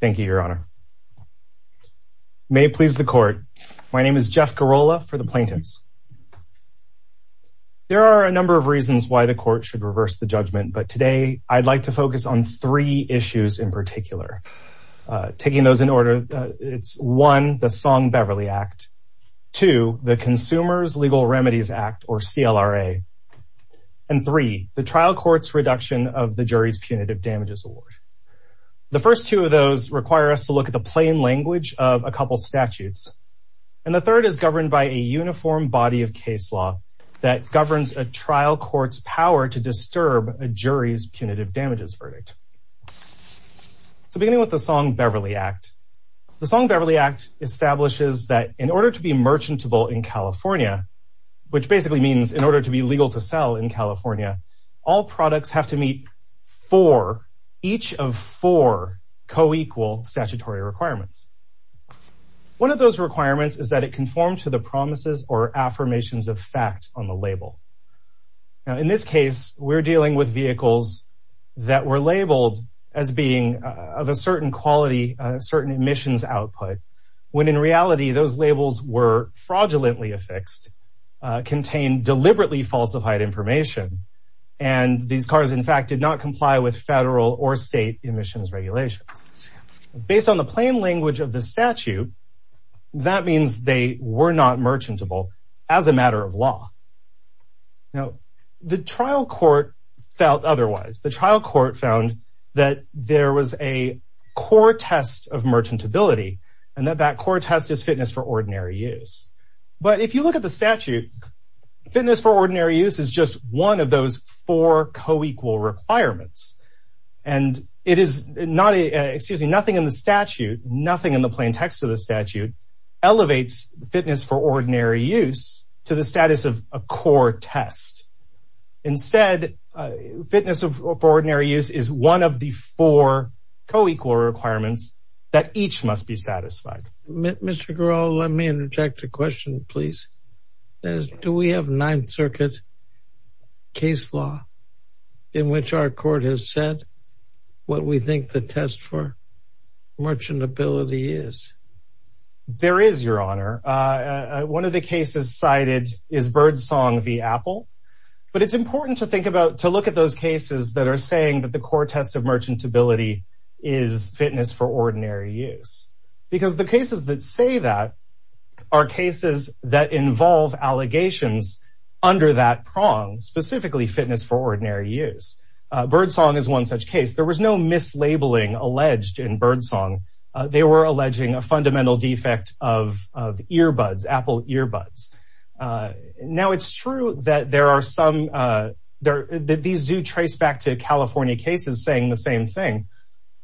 thank you, your honor. May it please the court. My name is Jeff Girola for the plaintiffs. There are a number of reasons why the court should reverse the judgment, but today I'd like to focus on three issues in particular. Taking those in order, it's one, the Song-Beverly Act, two, the Consumers Legal Remedies Act or CLRA, and three, the trial court's reduction of the jury's punitive damages award. The first two of those require us to look at the plain language of a couple statutes, and the third is governed by a uniform body of case law that governs a trial court's power to disturb a jury's punitive damages verdict. So beginning with the Song-Beverly Act, the Song-Beverly Act establishes that in order to be merchantable in California, which basically means in order to be legal to sell in California, all products have to meet four, each of four co-equal statutory requirements. One of those requirements is that it conform to the promises or affirmations of fact on the label. Now in this case, we're dealing with vehicles that were labeled as being of a certain quality, certain emissions output, when in reality those labels were fraudulently affixed, contained deliberately falsified information, and these cars in fact did not comply with federal or state emissions regulations. Based on the plain language of the statute, that means they were not merchantable as a matter of law. Now the trial court felt otherwise. The trial court found that there was a core test of merchantability, and that that core test is fitness for ordinary use. But if you look at the statute, fitness for ordinary use is one of the four co-equal requirements, and it is not a, excuse me, nothing in the statute, nothing in the plain text of the statute, elevates fitness for ordinary use to the status of a core test. Instead, fitness for ordinary use is one of the four co-equal requirements that each must be satisfied. Mr. Garreau, let me interject a question, please. That is, do we have a Ninth Circuit case law in which our court has said what we think the test for merchantability is? There is, Your Honor. One of the cases cited is Birdsong v. Apple, but it's important to think about, to look at those cases that are saying that the core test of merchantability is fitness for ordinary use, because the cases that say that are cases that involve allegations under that prong, specifically fitness for ordinary use. Birdsong is one such case. There was no mislabeling alleged in Birdsong. They were alleging a fundamental defect of earbuds, Apple earbuds. Now, it's true that there are some, that these do trace back to California cases saying the same thing,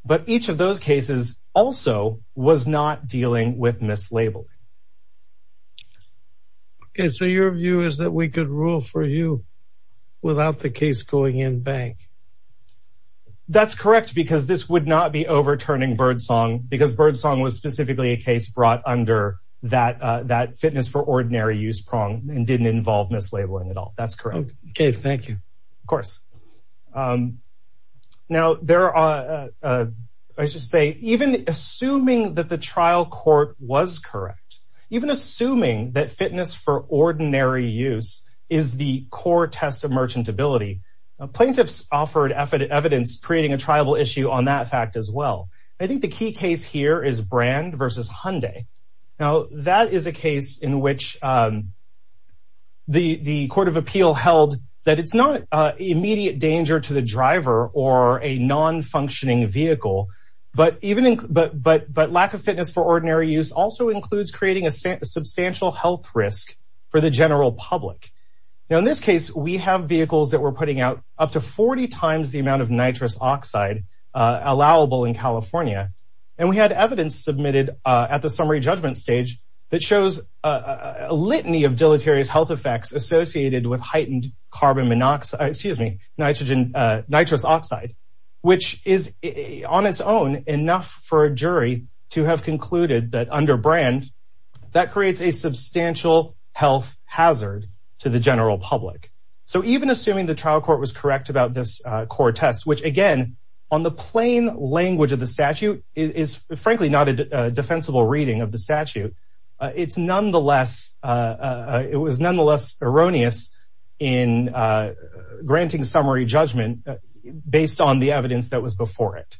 but each of those cases also was not dealing with mislabeling. Okay, so your view is that we could rule for you without the case going in bank? That's correct, because this would not be overturning Birdsong, because Birdsong was specifically a case brought under that that fitness for ordinary use prong and didn't involve mislabeling at all. That's correct. Okay, thank you. Of course. Now, there are, I should say, even assuming that the trial court was correct, even assuming that fitness for ordinary use is the core test of merchantability, plaintiffs offered evidence creating a tribal issue on that fact as well. I think the key case here is Brand v. Hyundai. Now, that is a case in which the Court of Appeal held that it's not immediate danger to the driver or a non-functioning vehicle, but even, but lack of fitness for ordinary use also includes creating a substantial health risk for the general public. Now, in this case, we have vehicles that we're putting out up to 40 times the amount of nitrous oxide allowable in California, and we had evidence submitted at the summary judgment stage that shows a litany of deleterious health effects associated with heightened carbon monoxide, excuse me, nitrous oxide, which is on its own enough for a jury to have concluded that under Brand, that creates a substantial health hazard to the general public. So, even assuming the trial court was correct about this core test, which again, on the plain language of the statute, is frankly not a defensible reading of the statute, it's nonetheless, it was nonetheless erroneous in granting summary judgment based on the evidence that was before it.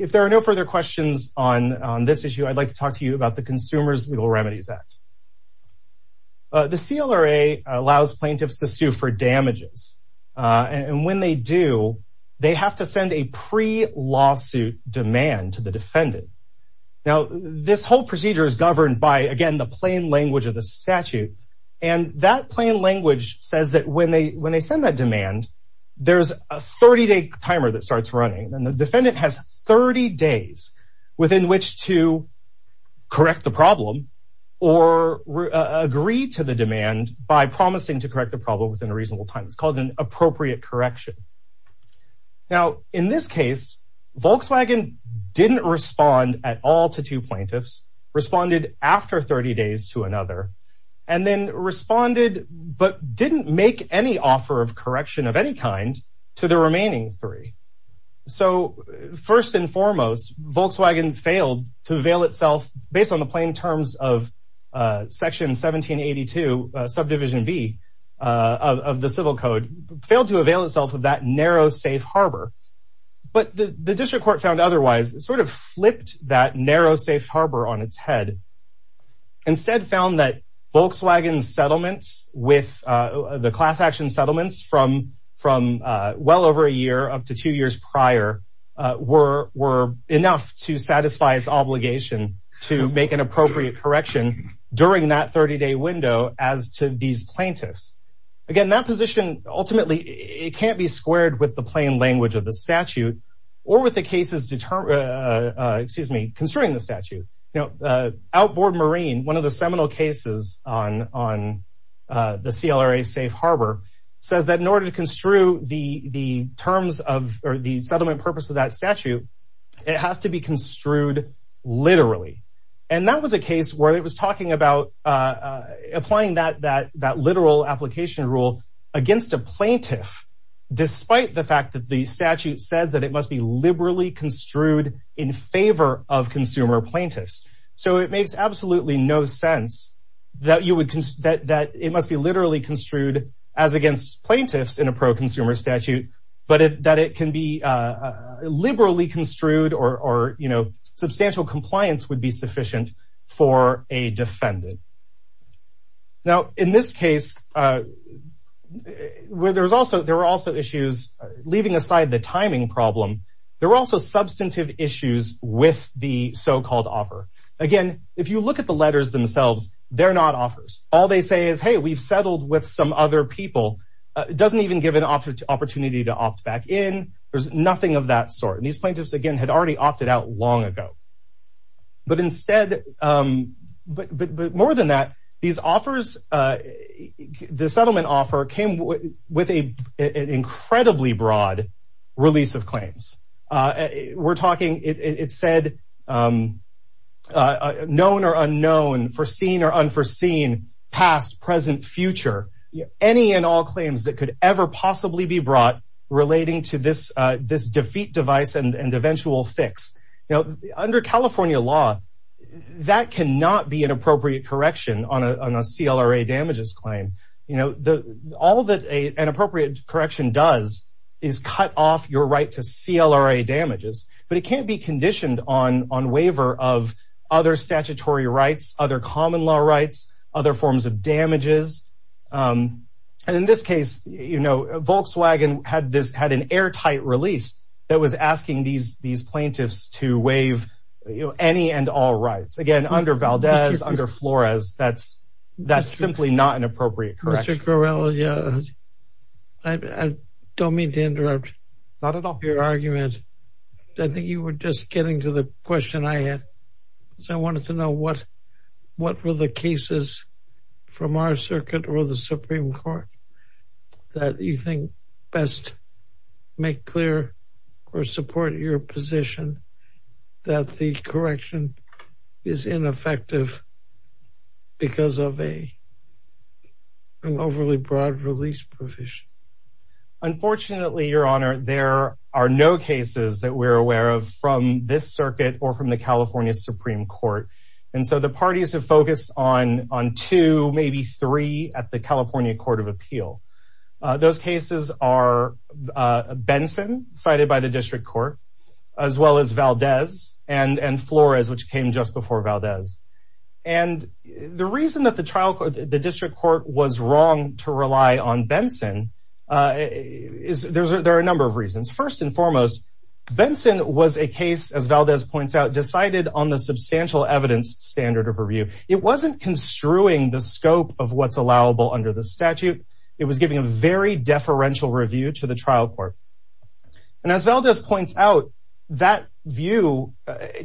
If there are no further questions on this issue, I'd like to talk to you about the Consumers Legal Remedies Act. The CLRA allows plaintiffs to sue for damages, and when they do, they have to send a pre-lawsuit demand to the defendant. Now, this whole procedure is governed by, again, the plain language of the statute, and that plain language says that when they, when they send that demand, there's a 30-day timer that starts running, and the defendant has 30 days within which to correct the problem or agree to the demand by promising to correct the problem within a reasonable time. It's called an appropriate correction. Now, in this case, Volkswagen didn't respond at all to two plaintiffs, responded after 30 days to another, and then responded, but didn't make any offer of correction of any kind, to the remaining three. So, first and foremost, Volkswagen failed to avail itself, based on the plain terms of Section 1782, Subdivision B of the Civil Code, failed to avail itself of that narrow safe harbor. But the District had a narrow safe harbor on its head. Instead, found that Volkswagen's settlements with, the class-action settlements from, from well over a year, up to two years prior, were, were enough to satisfy its obligation to make an appropriate correction during that 30-day window, as to these plaintiffs. Again, that position, ultimately, it can't be squared with the plain language of the statute, or with the cases determine, excuse me, concerning the statute. You know, Outboard Marine, one of the seminal cases on, on the CLRA safe harbor, says that in order to construe the, the terms of, or the settlement purpose of that statute, it has to be construed literally. And that was a case where it was talking about applying that, that, that literal application rule against a plaintiff, despite the fact that the statute says that it must be liberally construed in favor of consumer plaintiffs. So it makes absolutely no sense that you would, that, that it must be literally construed as against plaintiffs in a pro-consumer statute, but that it can be liberally construed, or, or, you know, substantial compliance would be sufficient for a defendant. Now, in this case, where there was also, there were also issues, leaving aside the timing problem, there were also substantive issues with the so-called offer. Again, if you look at the letters themselves, they're not offers. All they say is, hey, we've settled with some other people. It doesn't even give an opportunity to opt back in. There's nothing of that sort. And these plaintiffs, again, had already opted out long ago. But instead, but more than that, these offers, the settlement offer came with an incredibly broad release of claims. We're talking, it said, known or unknown, foreseen or unforeseen, past, present, future, any and all claims that could ever possibly be brought relating to this, this defeat device and eventual fix. Now, under California law, that cannot be an appropriate correction on a, on a CLRA damages claim. You know, all that an appropriate correction does is cut off your right to CLRA damages, but it can't be conditioned on, on waiver of other statutory rights, other common law rights, other forms of damages. And in this case, you know, Volkswagen had this, had an airtight release that was asking these, these plaintiffs to waive any and all rights. Again, under Valdez, under Flores, that's, that's simply not an appropriate correction. Mr. Corrella, I don't mean to interrupt your argument. I think you were just getting to the question I had. So I wanted to know what, what were the cases from our circuit or the Supreme Court that you think best make clear or support your position that the correction is ineffective because of a, an overly broad release provision? Unfortunately, your honor, there are no cases that we're aware of from this circuit or from the California Supreme Court. And so the parties have focused on, on two, maybe three at the California Court of Appeal. Those cases are Benson cited by the district court, as well as Valdez and, and Flores, which came just before Valdez. And the reason that the trial, the district court was wrong to rely on Benson is there's, there are a number of reasons. First and foremost, Benson was a case, as Valdez points out, decided on the substantial evidence standard of review. It wasn't construing the scope of what's allowable under the statute. It was giving a very deferential review to the trial court. And as Valdez points out that view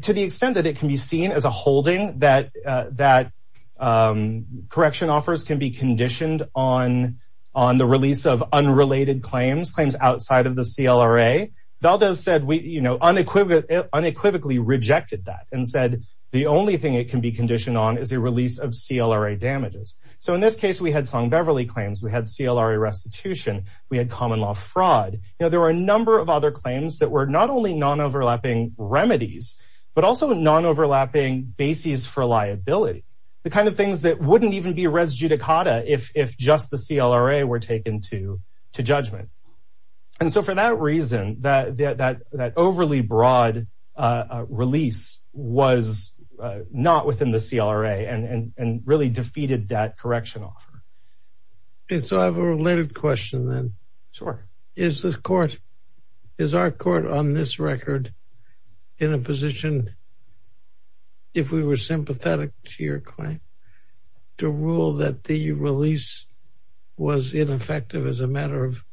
to the extent that it can be seen as a holding that, that correction offers can be conditioned on, on the release of unrelated claims, claims outside of the CLRA. Valdez said, we, you know, unequivocally, unequivocally rejected that and said, the only thing it can be conditioned on is a release of CLRA damages. So in this case, we had Song Beverly claims, we had CLRA restitution, we had common law fraud. You know, there were a number of other claims that were not only non-overlapping remedies, but also non-overlapping bases for liability, the kind of things that wouldn't even be res judicata if, if just the CLRA were taken to, to judgment. And so for that reason, that, that, that overly broad release was not within the CLRA and, and, and really defeated that correction offer. So I have a related question then. Sure. Is this court, is our court on this record in a position, if we were sympathetic to your claim, to rule that the release was ineffective as a matter of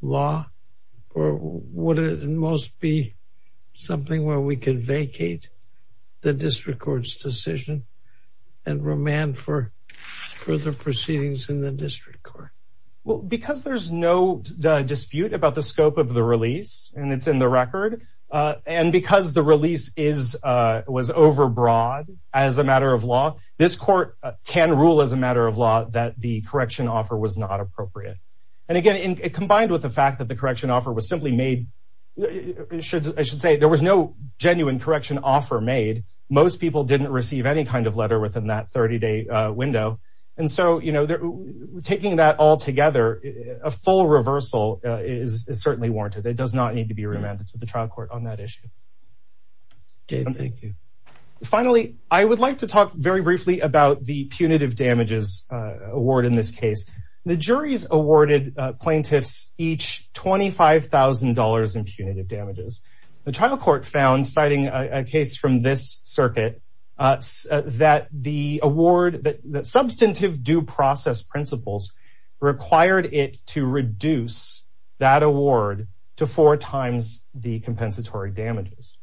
law? Or would it most be something where we can vacate the district court's decision and remand for further proceedings in the district court? Well, because there's no dispute about the scope of the release, and it's in the record. And because the release is, was overbroad, as a matter of law, this court can rule as a matter of law that the correction offer was not appropriate. And again, it combined with the fact that the correction offer was simply made, should, I should say there was no genuine correction offer made. Most people didn't receive any kind of letter within that 30 day window. And so, you know, taking that all together, a full reversal is certainly warranted. It does not need to be remanded to the trial court on that issue. Okay, thank you. Finally, I would like to talk very briefly about the punitive damages award in this case. The jury's awarded plaintiffs each $25,000 in punitive damages. The trial court found, citing a case from this circuit, that the award that substantive due process principles required it to reduce that award to four times the damages.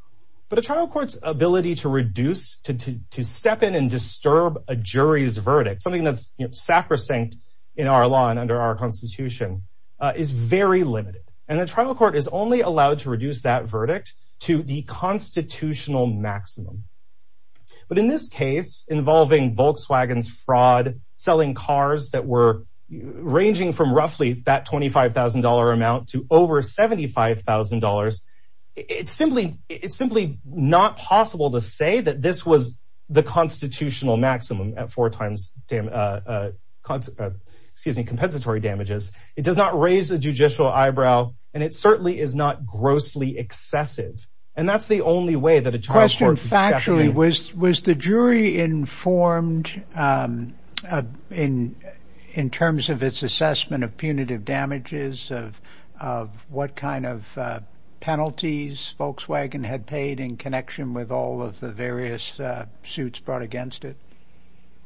But a trial court's ability to reduce, to step in and disturb a jury's verdict, something that's sacrosanct in our law and under our constitution, is very limited. And the trial court is only allowed to reduce that verdict to the constitutional maximum. But in this case, involving Volkswagen's fraud, selling cars that were ranging from roughly that $25,000 amount to over $75,000, it's simply not possible to say that this was the constitutional maximum at four times, excuse me, compensatory damages. It does not raise a judicial eyebrow, and it certainly is not grossly excessive. And that's the only way that a trial court can step in. Was the jury informed in terms of its assessment of punitive damages, of what kind of penalties Volkswagen had paid in connection with all of the various suits brought against it?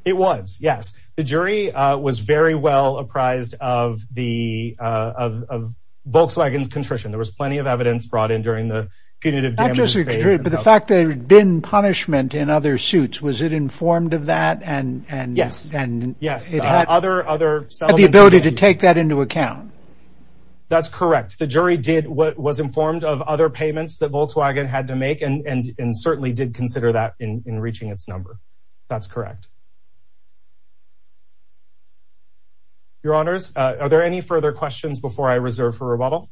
It was, yes. The jury was very well apprised of Volkswagen's contrition. There was plenty of evidence brought in during the punitive damages phase. But the fact that there had been punishment in other suits, was it informed of that and the ability to take that into account? That's correct. The jury was informed of other payments that Volkswagen had to make and certainly did consider that in reaching its number. That's correct. Your Honours, are there any further questions before I reserve for rebuttal?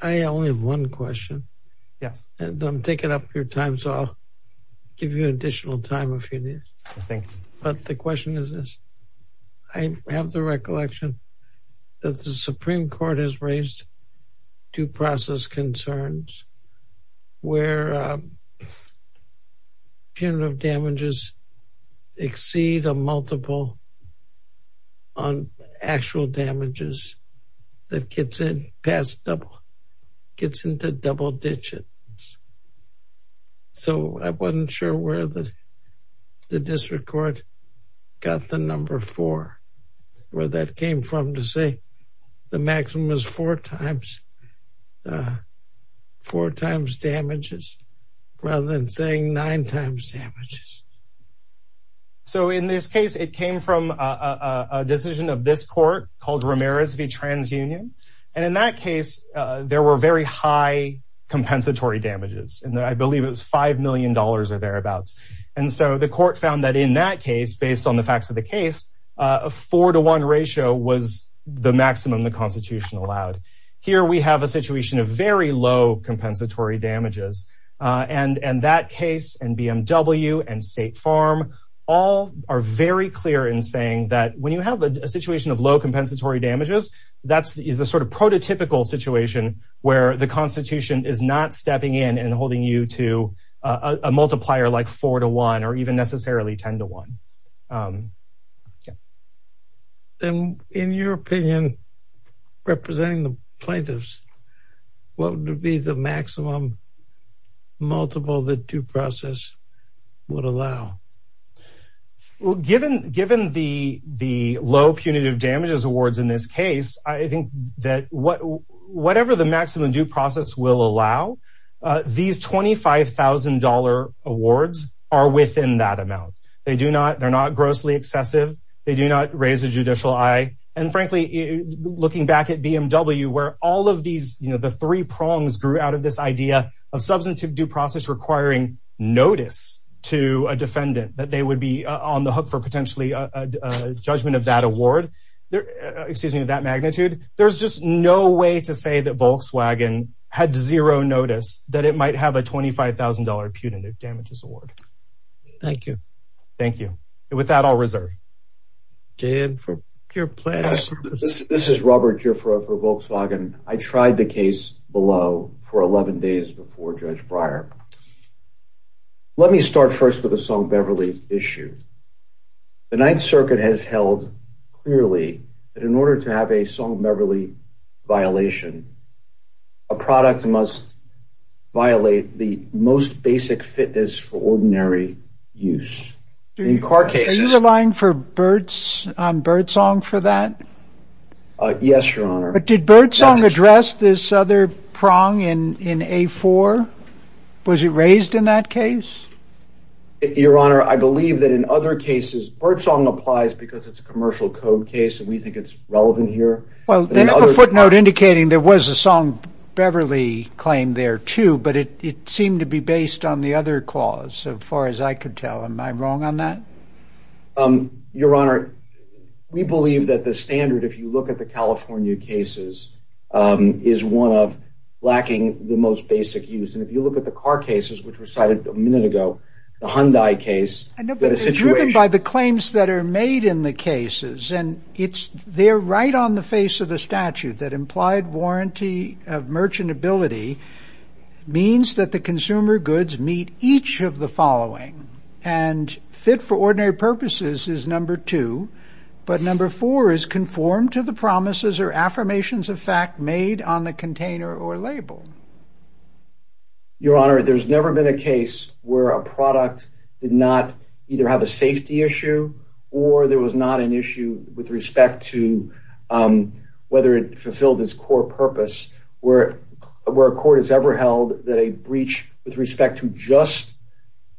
I only have one question. Yes. And I'm taking up your time, so I'll give you additional time if you need. Thank you. But the question is this. I have the recollection that the Supreme Court has raised due process concerns where punitive damages exceed a multiple on actual damages that gets in past double, gets into double digits. So I wasn't sure where the district court got the number four, where that came from to say the maximum is four times, four times damages, rather than saying nine times damages. So in this case, it came from a decision of this court called Ramirez v. TransUnion. And in that case, there were very high compensatory damages, and I believe it was five million dollars or thereabouts. And so the court found that in that case, based on the facts of the case, a four to one ratio was the maximum the Constitution allowed. Here we have a situation of very low compensatory damages. And that case and BMW and State Farm all are very clear in saying that when you have a situation of low compensatory damages, that's the sort of prototypical situation where the Constitution is not stepping in and holding you to a multiplier like four to one or even necessarily ten to one. Then in your opinion, representing the plaintiffs, what would be the maximum multiple that due process would allow? Well, given given the the low punitive damages awards in this case, I think that whatever the maximum due process will allow, these twenty five thousand dollar awards are within that amount. They do not they're not grossly excessive. They do not raise a judicial eye. And frankly, looking back at BMW, where all of these the three prongs grew out of this idea of due process requiring notice to a defendant that they would be on the hook for potentially a judgment of that award. Excuse me, that magnitude. There's just no way to say that Volkswagen had zero notice that it might have a twenty five thousand dollar punitive damages award. Thank you. Thank you. With that, I'll reserve. Dan, for your pleasure, this is Robert for Volkswagen. I tried the case below for 11 days before Judge Breyer. Let me start first with a song Beverly issue. The Ninth Circuit has held clearly that in order to have a song, Beverly violation. A product must violate the most basic fitness for ordinary use in car cases, relying for birds on birdsong for that. Yes, your honor. But did Birdsong address this other prong in in a four? Was it raised in that case? Your honor, I believe that in other cases, Birdsong applies because it's a commercial code case and we think it's relevant here. Well, they have a footnote indicating there was a song Beverly claim there, too. But it seemed to be based on the other clause. So far as I could tell, am I wrong on that? Your honor, we believe that the standard, if you look at the California cases, is one of lacking the most basic use. And if you look at the car cases, which were cited a minute ago, the Hyundai case and nobody's driven by the claims that are made in the cases. And it's there right on the face of the statute that implied warranty of merchantability means that the consumer goods meet each of the following and fit for ordinary purposes is number two. But number four is conformed to the promises or affirmations of fact made on the container or label. Your honor, there's never been a case where a product did not either have a safety issue or there was not an issue with respect to whether it fulfilled its core purpose, where where a court has ever held that a breach with respect to just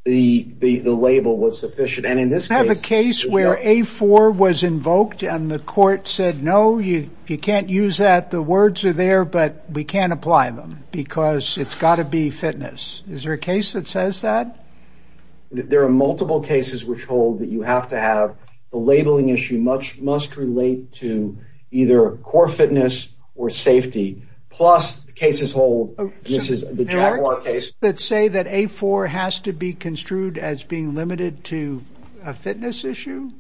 the label was sufficient. And in this case, I have a case where a four was invoked and the court said, no, you you can't use that. The words are there, but we can't apply them because it's got to be fitness. Is there a case that says that there are multiple cases which hold that you have to have a labeling issue much must relate to either core fitness or safety plus cases hold the case that say that a four has to be construed as being limited to a fitness issue.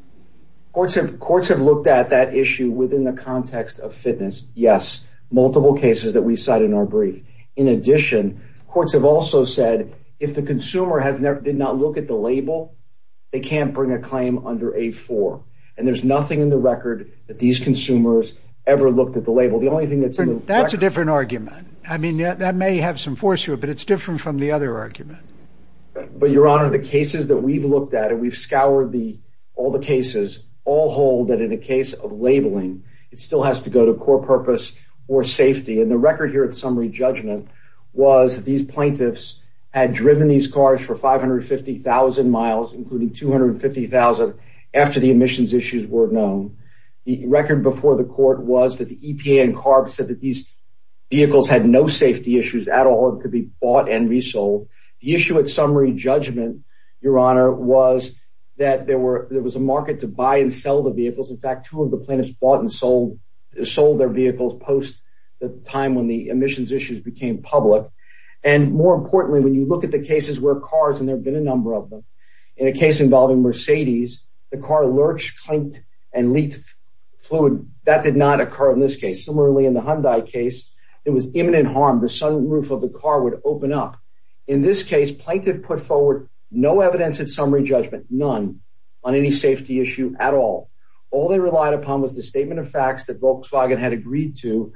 Courts have courts have looked at that issue within the context of fitness. Yes. Multiple cases that we cite in our brief. In addition, courts have also said if the consumer has not looked at the label, they can't bring a claim under a four. And there's nothing in the record that these consumers ever looked at the label. The only thing that's that's a different argument. I mean, that may have some force here, but it's different from the other argument. But your honor, the cases that we've looked at and we've scoured the all the cases all hold that in a case of labeling, it still has to go to core purpose or safety. And the record here at summary judgment was that these plaintiffs had driven these cars for five hundred fifty thousand miles, including two hundred fifty thousand after the emissions issues were known. The record before the court was that the EPA and CARB said that these vehicles had no safety issues at all, could be bought and resold. The issue at summary judgment, your honor, was that there were there was a market to buy and sell the vehicles. In fact, two of the plaintiffs bought and sold, sold their vehicles post the time when the emissions issues became public. And more importantly, when you look at the cases where cars and there have been a number of them in a case involving Mercedes, the car lurched, clinked and leaked fluid. That did not occur in this case. Similarly, in the Hyundai case, there was imminent harm. The sunroof of the car would open up. In this case, plaintiff put forward no evidence at summary judgment, none on any safety issue at all. All they relied upon was the statement of facts that Volkswagen had agreed to.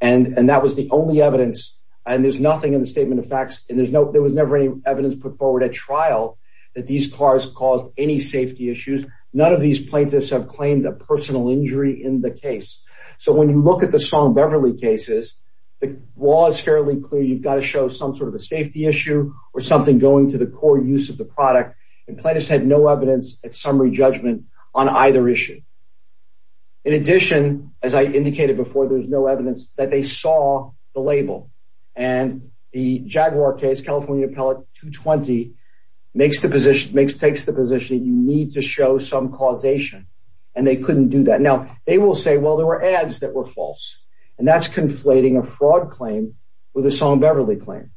And that was the only evidence. And there's nothing in the statement of facts. And there's no there was never any evidence put forward at trial that these cars caused any safety issues. None of these plaintiffs have claimed a personal injury in the case. So when you look at the song Beverly cases, the law is fairly clear. You've got to show some sort of a safety issue or something going to the core use of the product. And plaintiffs had no evidence at summary judgment on either issue. In addition, as I indicated before, there's no evidence that they saw the label and the Jaguar case. California appellate 220 makes the position makes takes the position you need to show some causation. And they couldn't do that. Now, they will say, well, there were ads that were false. And that's conflating a fraud claim with a song Beverly claim.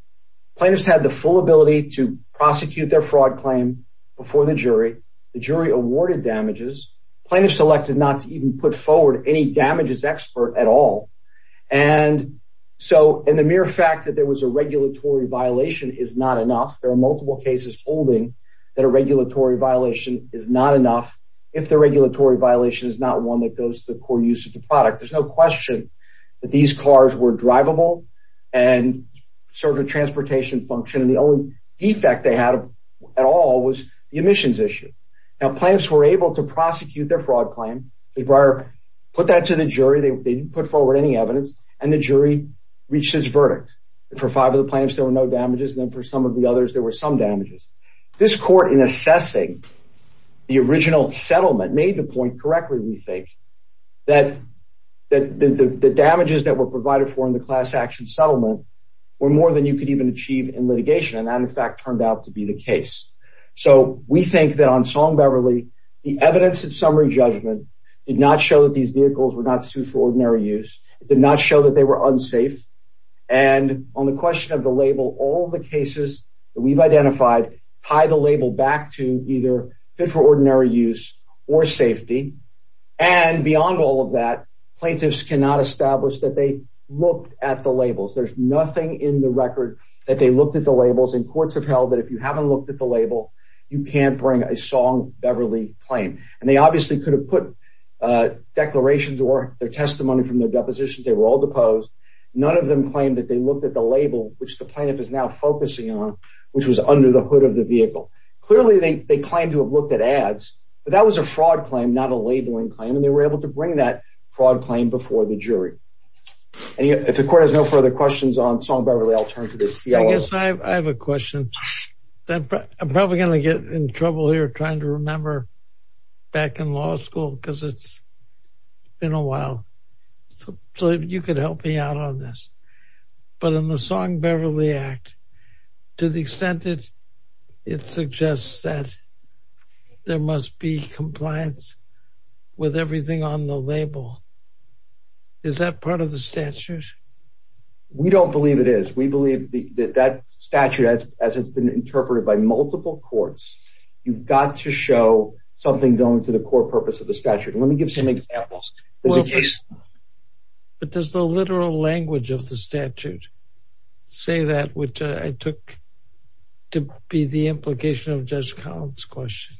Plaintiffs had the full ability to prosecute their fraud claim before the jury. The jury awarded damages. Plaintiffs elected not to even put forward any damages expert at all. And so in the mere fact that there was a regulatory violation is not enough. There are multiple cases holding that a regulatory violation is not enough. If the regulatory violation is not one that goes to the core use of the product, there's no question that these cars were drivable and serve a transportation function. And the only defect they had at all was the emissions issue. Now, plaintiffs were able to prosecute their fraud claim. Breyer put that to the jury. They didn't put forward any evidence. And the jury reached its verdict. For five of the plaintiffs, there were no damages. Then for some of the others, there were some damages. This court in assessing the original settlement made the point correctly. We think that that the damages that were provided for in the class action settlement were more than you could even achieve in litigation. And that, in fact, turned out to be the case. So we think that on Song Beverly, the evidence and summary judgment did not show that these vehicles were not sued for ordinary use. It did not show that they were unsafe. And on the question of the label, all the cases that we've identified tie the label back to either fit for ordinary use or safety. And beyond all of that, plaintiffs cannot establish that they looked at the labels. There's nothing in the record that they looked at the labels. And courts have held that if you haven't looked at the label, you can't bring a Song Beverly claim. And they obviously could have put declarations or their testimony from their depositions. They were all deposed. None of them claimed that they looked at the label, which the plaintiff is now focusing on, which was under the hood of the vehicle. Clearly, they claim to have looked at ads. But that was a fraud claim, not a labeling claim. And they were able to bring that fraud claim before the jury. And if the court has no further questions on Song Beverly, I'll turn to the CIO. Yes, I have a question that I'm probably going to get in trouble here trying to remember back in law school because it's been a while. So you could help me out on this. But in the Song Beverly Act, to the extent that it suggests that there must be compliance with everything on the label. Is that part of the statute? We don't believe it is. We believe that that statute, as it's been interpreted by multiple courts, you've got to show something going to the core purpose of the statute. Let me give some examples. But does the literal language of the statute say that, which I took to be the implication of Judge Collins question?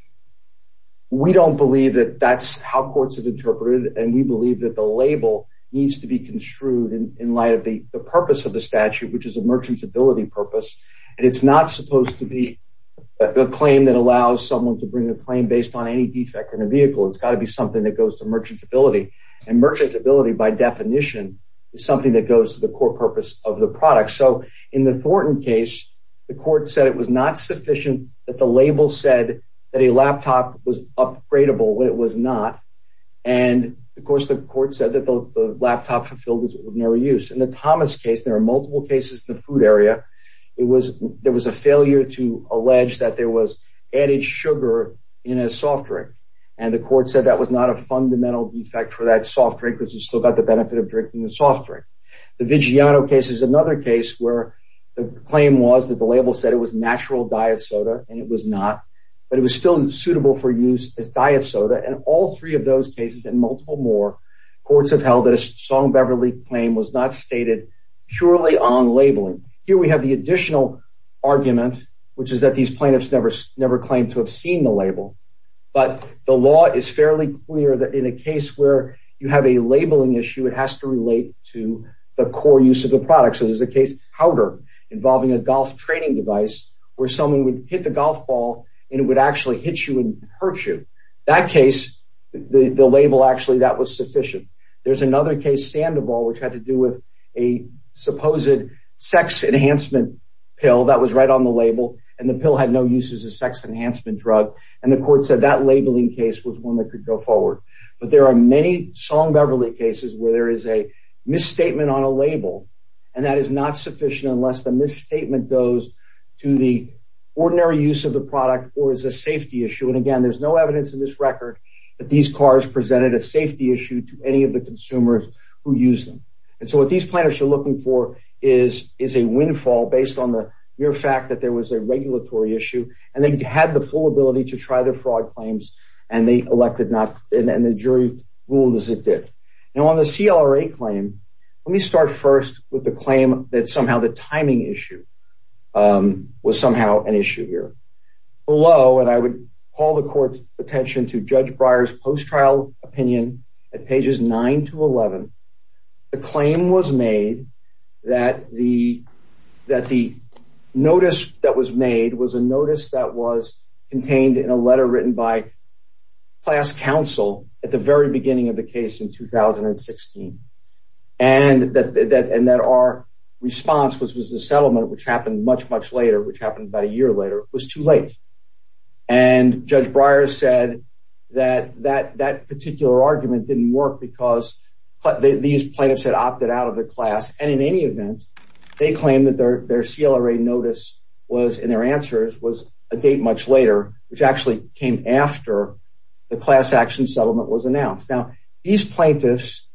We don't believe that that's how courts have interpreted. And we believe that the label needs to be construed in light of the purpose of the merchantability purpose. And it's not supposed to be a claim that allows someone to bring a claim based on any defect in a vehicle. It's got to be something that goes to merchantability and merchantability, by definition, is something that goes to the core purpose of the product. So in the Thornton case, the court said it was not sufficient that the label said that a laptop was upgradeable when it was not. And of course, the court said that the laptop fulfilled its ordinary use. In the Thomas case, there are multiple cases in the food area. It was there was a failure to allege that there was added sugar in a soft drink. And the court said that was not a fundamental defect for that soft drinkers who still got the benefit of drinking the soft drink. The Vigiano case is another case where the claim was that the label said it was natural diet soda and it was not, but it was still suitable for use as diet soda. And all three of those cases and multiple more courts have held that a Song Beverly claim was not stated purely on labeling. Here we have the additional argument, which is that these plaintiffs never never claimed to have seen the label. But the law is fairly clear that in a case where you have a labeling issue, it has to relate to the core use of the product. So there's a case, Powder, involving a golf training device where someone would hit the golf ball and it would actually hit you and hurt you. That case, the label actually that was sufficient. There's another case, Sandoval, which had to do with a supposed sex enhancement pill that was right on the label and the pill had no use as a sex enhancement drug. And the court said that labeling case was one that could go forward. But there are many Song Beverly cases where there is a misstatement on a label and that is not sufficient unless the misstatement goes to the ordinary use of the product or is a safety issue. And again, there's no evidence in this record that these cars presented a safety issue to any of the consumers who use them. And so what these plaintiffs are looking for is is a windfall based on the mere fact that there was a regulatory issue and they had the full ability to try their fraud claims and they elected not and the jury ruled as it did. Now, on the CLRA claim, let me start first with the claim that somehow the timing issue was somehow an issue here. Below, and I would call the court's attention to Judge Breyer's post-trial opinion at pages 9 to 11, the claim was made that the that the notice that was made was a notice that was contained in a letter written by class counsel at the very beginning of the case in 2016. And that and that our response was was the settlement, which happened much, much later, which happened about a year later, was too late. And Judge Breyer said that that that particular argument didn't work because these plaintiffs had opted out of the class. And in any event, they claim that their CLRA notice was in their answers was a date much later, which actually came after the class action settlement was announced. Now, these plaintiffs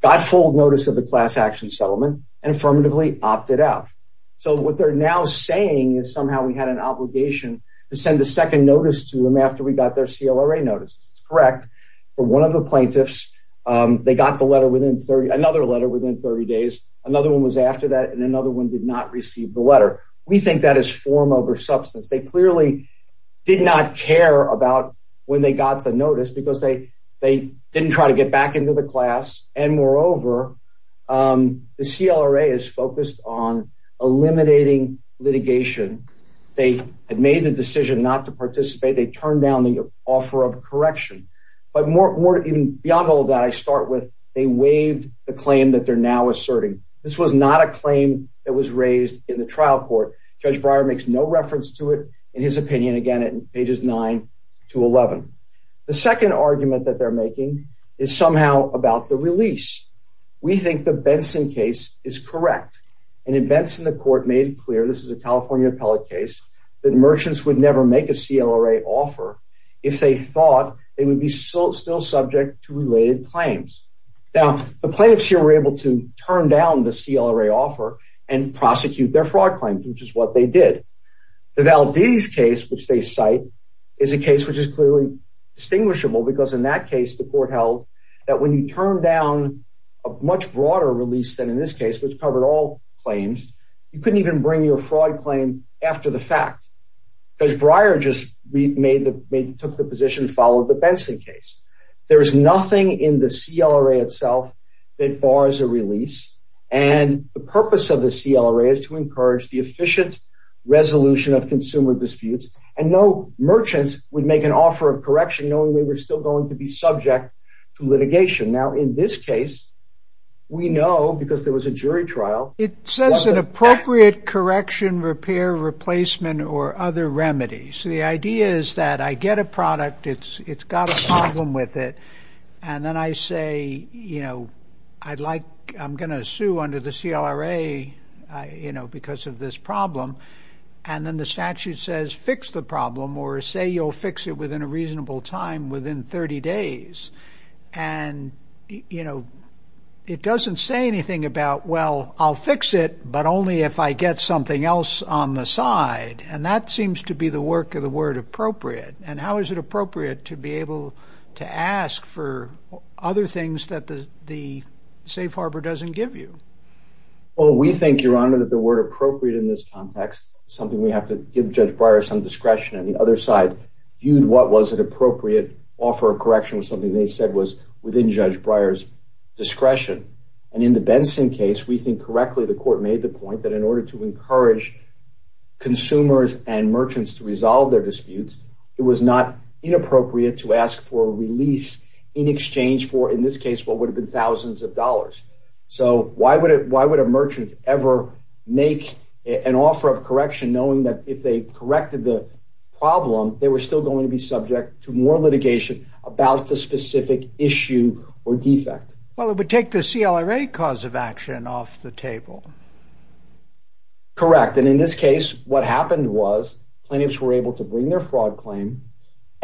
got full notice of the class action settlement and affirmatively opted out. So what they're now saying. Is somehow we had an obligation to send a second notice to them after we got their CLRA notice. It's correct for one of the plaintiffs. They got the letter within another letter within 30 days. Another one was after that and another one did not receive the letter. We think that is form over substance. They clearly did not care about when they got the notice because they they didn't try to get back into the class. And moreover, the CLRA is focused on eliminating litigation. They had made the decision not to participate. They turned down the offer of correction. But more even beyond all that, I start with they waived the claim that they're now asserting. This was not a claim that was raised in the trial court. Judge Breyer makes no reference to it in his opinion. Again, it pages 9 to 11. The second argument that they're making is somehow about the release. We think the Benson case is correct. And in Benson, the court made it clear this is a California appellate case that merchants would never make a CLRA offer if they thought they would be so still subject to related claims. Now, the plaintiffs here were able to turn down the CLRA offer and prosecute their fraud claims, which is what they did. The Valdez case, which they cite, is a case which is clearly distinguishable because in that case, the court held that when you turn down a much broader release than in this case, which covered all claims, you couldn't even bring your fraud claim after the fact. Judge Breyer just took the position, followed the Benson case. There is nothing in the CLRA itself that bars a release. And the purpose of the CLRA is to encourage the efficient resolution of consumer disputes and no merchants would make an offer of correction knowing they were still going to be subject to litigation. Now, in this case, we know because there was a jury trial. It says an appropriate correction, repair, replacement or other remedies. The idea is that I get a product. It's it's got a problem with it. And then I say, you know, I'd like I'm going to sue under the CLRA, you know, because of this problem. And then the statute says fix the problem or say you'll fix it within a reasonable time, within 30 days. And, you know, it doesn't say anything about, well, I'll fix it, but only if I get something else on the side. And that seems to be the work of the word appropriate. And how is it appropriate to be able to ask for other things that the safe harbor doesn't give you? Well, we think, Your Honor, that the word appropriate in this context, something we have to give Judge Breyer some discretion and the other side viewed what was an appropriate offer of correction was something they said was within Judge Breyer's discretion. And in the Benson case, we think correctly. The court made the point that in order to encourage consumers and merchants to resolve their disputes, it was not inappropriate to ask for a release in exchange for, in this case, what would have been thousands of dollars. So why would it why would a merchant ever make an offer of correction knowing that if they corrected the problem, they were still going to be subject to more litigation about the specific issue or defect? Well, it would take the CLRA cause of action off the table. Correct. And in this case, what happened was plaintiffs were able to bring their fraud claim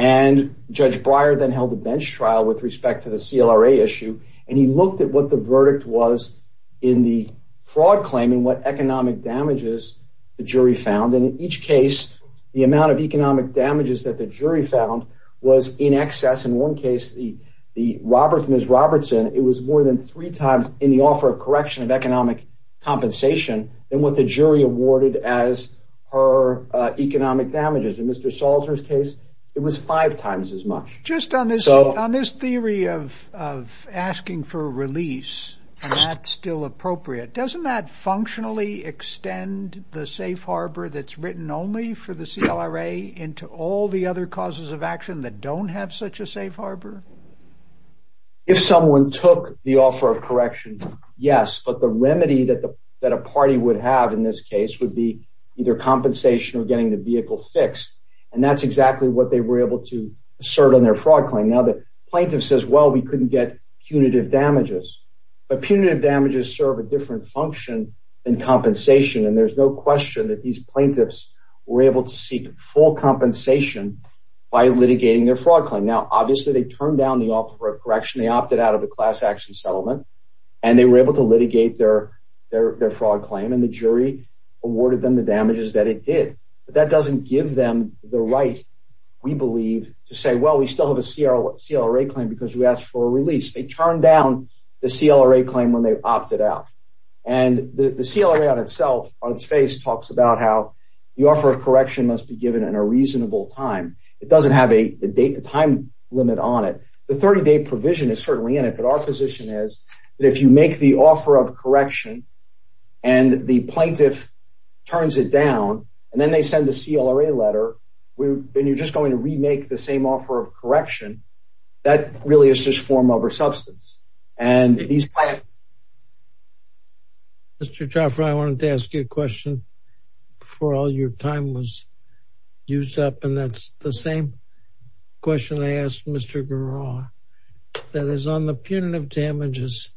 and Judge Breyer then held a bench trial with respect to the CLRA issue. And he looked at what the verdict was in the fraud claim and what economic damages the jury found. And in each case, the amount of economic damages that the jury found was in excess. In one case, the the Roberts, Miss Robertson, it was more than three times in the offer of correction of economic compensation than what the jury awarded as her economic damages. In Mr. Salter's case, it was five times as much. Just on this. So on this theory of of asking for release, that's still appropriate. Doesn't that functionally extend the safe harbor that's written only for the CLRA into all the other causes of action that don't have such a safe harbor? If someone took the offer of correction, yes, but the remedy that the that a party would have in this case would be either compensation or getting the vehicle fixed. And that's exactly what they were able to assert on their fraud claim. Now, the plaintiff says, well, we couldn't get punitive damages, but punitive damages serve a different function and compensation. And there's no question that these plaintiffs were able to seek full compensation by litigating their fraud claim. Now, obviously, they turned down the offer of correction. They opted out of a class action settlement and they were able to litigate their their fraud claim. And the jury awarded them the damages that it did. But that doesn't give them the right, we believe, to say, well, we still have a CLRA claim because we asked for a release. They turned down the CLRA claim when they opted out. And the CLRA on itself, on its face, talks about how the offer of correction must be given in a reasonable time. It doesn't have a time limit on it. The 30 day provision is certainly in it. But our position is that if you make the offer of correction and the plaintiff turns it down and then they send the CLRA letter, then you're just going to remake the same offer of correction. That really is just form over substance. And these plaintiffs. Mr. Chauffeur, I wanted to ask you a question before all your time was used up, and that's the same question I asked Mr. Giroir. That is, on the punitive damages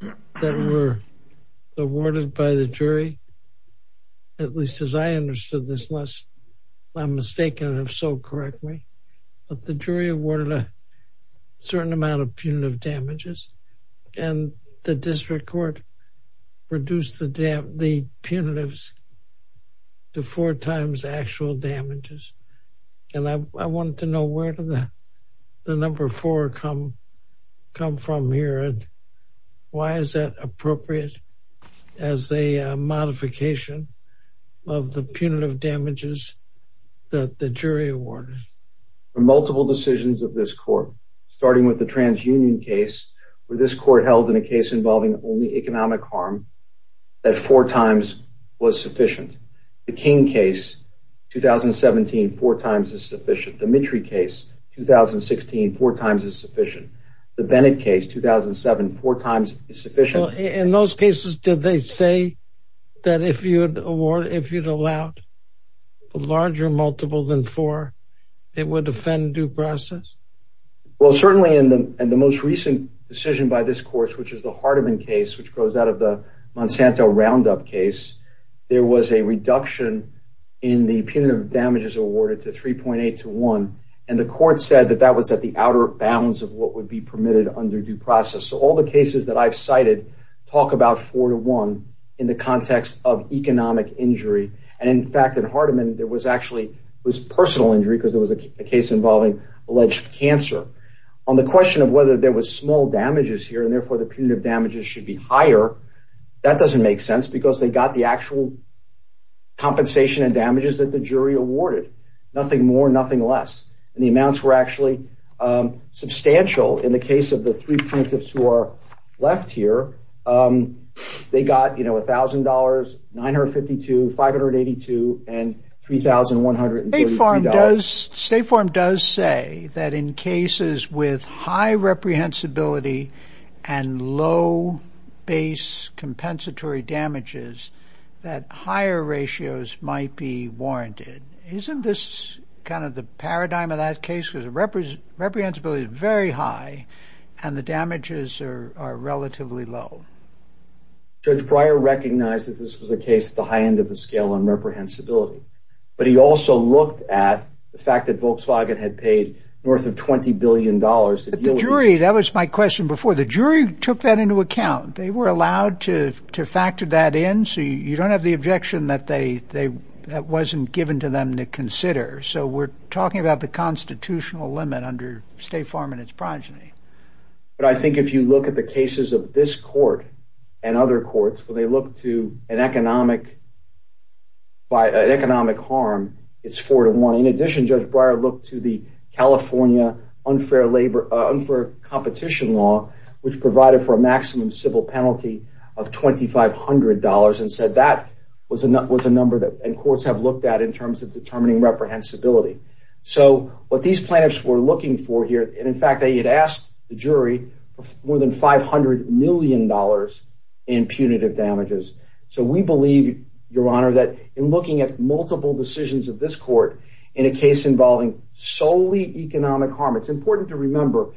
that were awarded by the jury, at least as I understood this, unless I'm mistaken, if so, correct me, but the jury awarded a certain amount of punitive damages and the district court reduced the punitives to four times the actual damages. And I wanted to know where did the number four come from here? And why is that appropriate as a modification of the punitive damages that the jury awarded? The multiple decisions of this court, starting with the TransUnion case, where this court held in a case involving only economic harm, that four times was sufficient. The King case, 2017, four times is sufficient. The Mitry case, 2016, four times is sufficient. The Bennett case, 2007, four times is sufficient. In those cases, did they say that if you'd allowed a larger multiple than four, it would offend due process? Well, certainly in the most recent decision by this court, which is the Hardeman case, which goes out of the Monsanto Roundup case, there was a reduction in the punitive damages awarded to 3.8 to one, and the court said that that was at the outer bounds of what would be permitted under due process. So all the cases that I've cited talk about four to one in the context of economic injury. And in fact, in Hardeman, there was actually personal injury because it was a case involving alleged cancer. On the question of whether there was small damages here, and therefore the punitive damages should be higher, that doesn't make sense because they got the actual compensation and damages that the jury awarded. Nothing more, nothing less. The amounts were actually substantial in the case of the three plaintiffs who are left here. They got, you know, $1,000, $952, $582, and $3,133. State form does say that in cases with high reprehensibility and low base compensatory damages, that higher ratios might be warranted. Isn't this kind of the paradigm of that case? Because the reprehensibility is very high and the damages are relatively low. Judge Breyer recognized that this was a case at the high end of the scale on the fact that Volkswagen had paid worth of $20 billion to deal with the jury. That was my question before the jury took that into account. They were allowed to factor that in. So you don't have the objection that they that wasn't given to them to consider. So we're talking about the constitutional limit under State Farm and its progeny. But I think if you look at the cases of this court and other courts, when they look to an economic harm, it's four to one. In addition, Judge Breyer looked to the California unfair competition law, which provided for a maximum civil penalty of $2,500, and said that was a number that courts have looked at in terms of determining reprehensibility. So what these plaintiffs were looking for here, and in fact they had asked the jury for more than $500 million in punitive damages. So we believe, Your Honor, that in looking at multiple decisions of this court in a case involving solely economic harm, it's important to remember,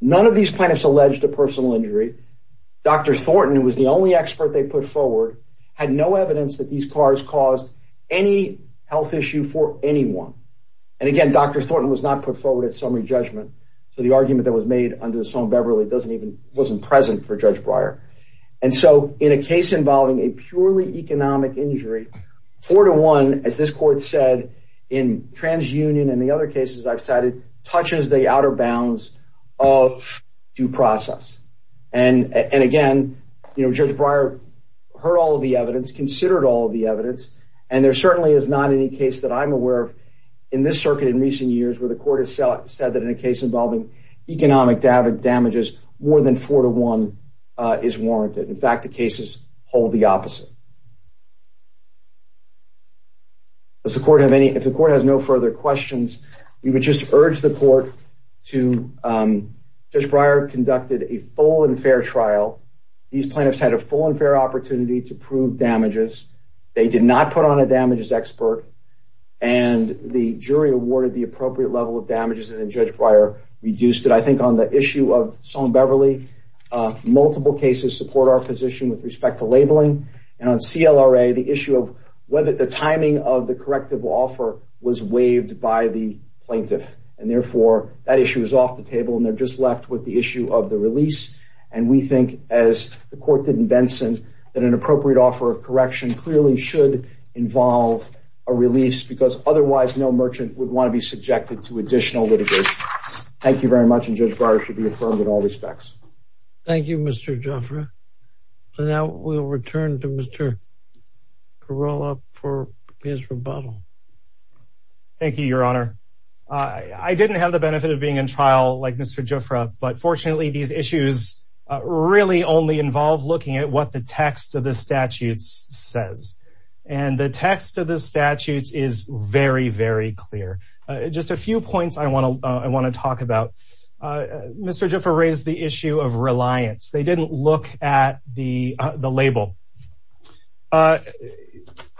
none of these plaintiffs alleged a personal injury. Dr. Thornton, who was the only expert they put forward, had no evidence that these cars caused any health issue for anyone. And again, Dr. Thornton was not put forward at summary judgment. So the argument that was made under the Somme Beverly wasn't present for Judge Breyer. And so in a case involving a purely economic injury, four to one, as this court said in TransUnion and the other cases I've cited, touches the outer bounds of due process. And again, Judge Breyer heard all of the evidence, considered all of the evidence, and there certainly is not any case that I'm aware of in this circuit in recent years where the court has said that in a case involving economic damages, more than four to one is warranted. In fact, the cases hold the opposite. Does the court have any, if the court has no further questions, we would just urge the court to, Judge Breyer conducted a full and fair trial. These plaintiffs had a full and fair opportunity to prove damages. They did not put on a damages expert, and the jury awarded the appropriate level of damages, and then Judge Breyer reduced it. I think on the issue of Somme Beverly, multiple cases support our position with respect to labeling, and on CLRA, the issue of whether the timing of the corrective offer was waived by the plaintiff. And therefore, that issue is off the table, and they're just left with the issue of the release, and we think, as the court did in Benson, that an appropriate offer of correction clearly should involve a release because otherwise no merchant would want to be subjected to additional litigation. Thank you very much, and Judge Breyer should be affirmed in all respects. Thank you, Mr. Jofra. And now we'll return to Mr. Carolla for his rebuttal. Thank you, Your Honor. I didn't have the benefit of being in trial like Mr. Jofra, but fortunately, these issues really only involve looking at what the text of the statutes says, and the text of the statutes is very, very clear. Just a few points I want to talk about. Mr. Jofra raised the issue of reliance. They didn't look at the label.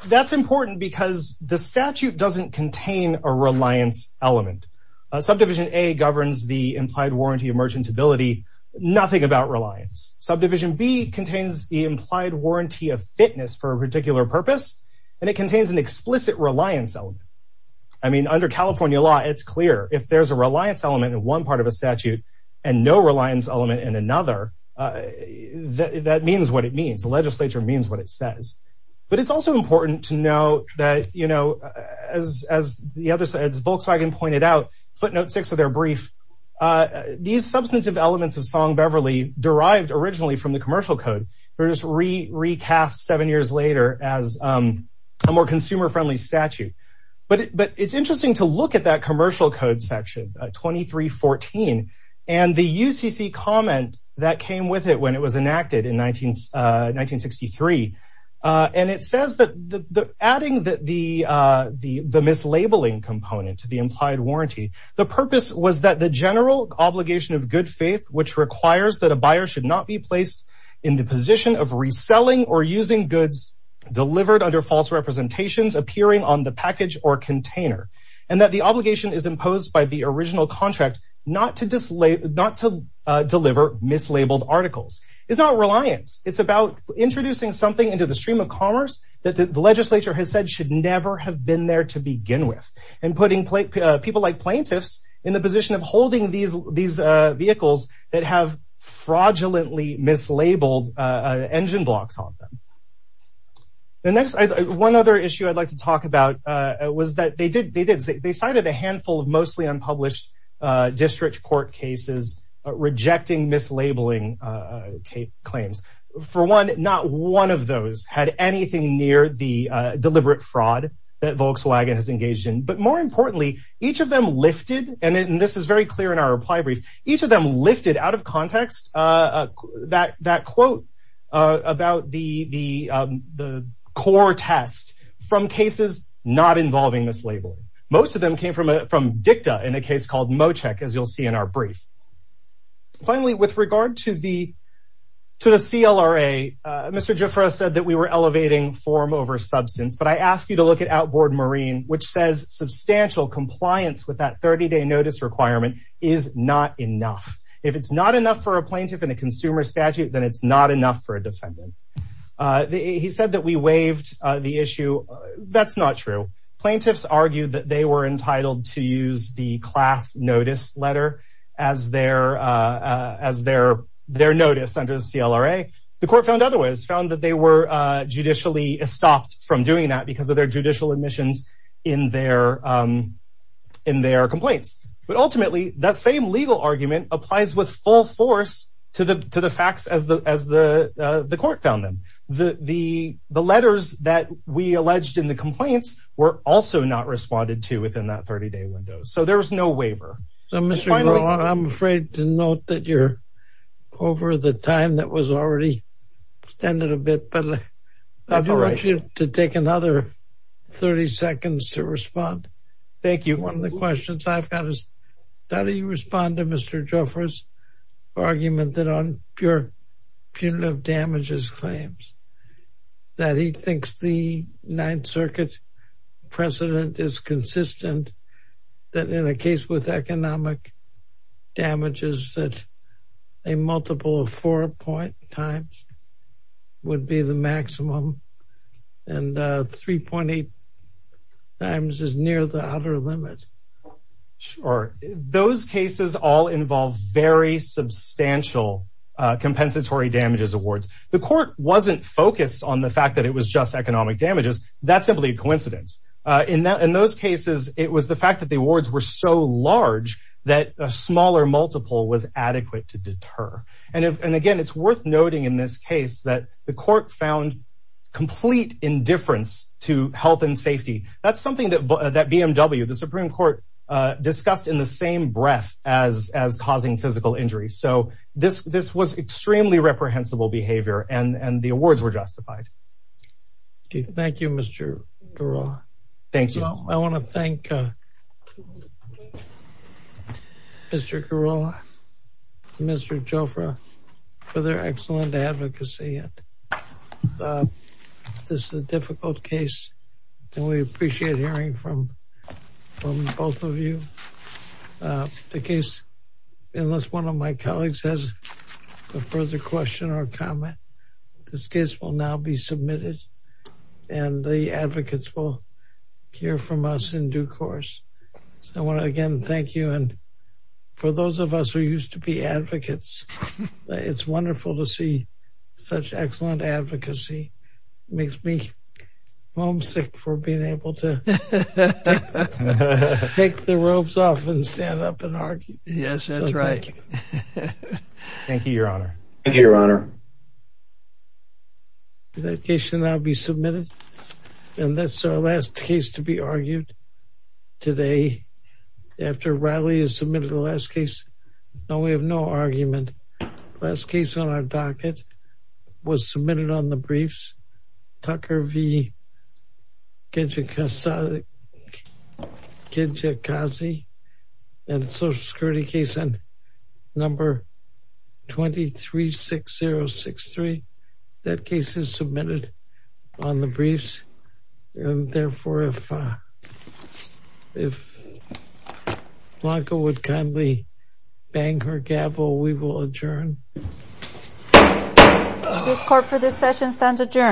That's important because the statute doesn't contain a reliance element. Subdivision A governs the implied warranty of merchantability, nothing about reliance. Subdivision B contains the implied warranty of fitness for a particular purpose, and it contains an explicit reliance element. I mean, under California law, it's clear if there's a reliance element in one part of a statute and no reliance element in another, that means what it means. The legislature means what it says. But it's also important to note that, you know, as Volkswagen pointed out, footnote six of their brief, these substantive elements of Song-Beverly, derived originally from the commercial code, were just recast seven years later as a more consumer-friendly statute. But it's interesting to look at that commercial code section, 2314, and the UCC comment that came with it when it was enacted in 1963, and it says that adding the mislabeling component to the implied warranty, the purpose was that the general obligation of good faith, which requires that a buyer should not be placed in the position of reselling or using goods delivered under false representations appearing on the package or container, and that the obligation is imposed by the original contract not to deliver mislabeled articles. It's not reliance. It's about introducing something into the stream of commerce that the legislature has said should never have been there to begin with, and putting people like plaintiffs in the position of holding these vehicles that have fraudulently mislabeled engine blocks on them. The next, one other issue I'd like to talk about was that they did, they cited a handful of mostly unpublished district court cases rejecting mislabeling claims. For one, not one of those had anything near the deliberate fraud that Volkswagen has engaged in, but more importantly, each of them lifted, and this is very clear in our reply brief, each of them lifted out of context that quote about the core test from cases not involving mislabeling. Most of them came from DICTA in a case called Mocek, as you'll see in our brief. Finally, with regard to the CLRA, Mr. Jafra said that we were elevating form over substance, but I ask you to look at outboard marine, which says substantial compliance with that 30-day notice requirement is not enough. If it's not enough for a plaintiff in a consumer statute, then it's not enough for a defendant. He said that we waived the issue. That's not true. Plaintiffs argued that they were entitled to use the class notice letter as their notice under the CLRA. The court found other ways, found that they were judicially stopped from doing that because of their judicial admissions in their complaints. But ultimately, that same legal argument applies with full force to the facts as the court found them. The letters that we alleged in the complaints were also not responded to within that 30-day window, so there was no waiver. I'm afraid to note that you're over the time that was already extended a bit, but I want you to take another 30 seconds to respond. Thank you. One of the questions I've got is, how do you respond to Mr. Jafra's argument that on pure punitive damages claims that he thinks the Ninth Circuit precedent is consistent that in a case with economic damages that a multiple of four point times would be the maximum and 3.8 times is near the outer limit? Sure, those cases all involve very substantial compensatory damages awards. The court wasn't focused on the fact that it was just economic damages. That's simply a coincidence. In those cases, it was the fact that the awards were so large that a smaller multiple was adequate to deter. And again, it's worth noting in this case that the court found complete indifference to health and safety. That's something that BMW, the Supreme Court, discussed in the same breath as causing physical injuries. So this was extremely reprehensible behavior, and the awards were justified. Thank you, Mr. Giroir. Thank you. I want to thank Mr. Giroir, Mr. Jafra for their excellent advocacy. This is a difficult case, and we appreciate hearing from both of you. The case, unless one of my colleagues has a further question or comment, this case will now be submitted, and the advocates will hear from us in due course. So I want to again thank you. And for those of us who used to be advocates, it's wonderful to see such excellent advocacy. It makes me homesick for being able to take the robes off and stand up and argue. Yes, that's right. Thank you, Your Honor. That case should now be submitted. And that's our last case to be argued today, after Riley has submitted the last case. Now, we have no argument. The last case on our docket was submitted on the briefs, Tucker v. Kijikazi, and the social security case on number 236063. That case is submitted on the briefs. And therefore, if Blanca would kindly bang her gavel, we will adjourn. This court for this session stands adjourned.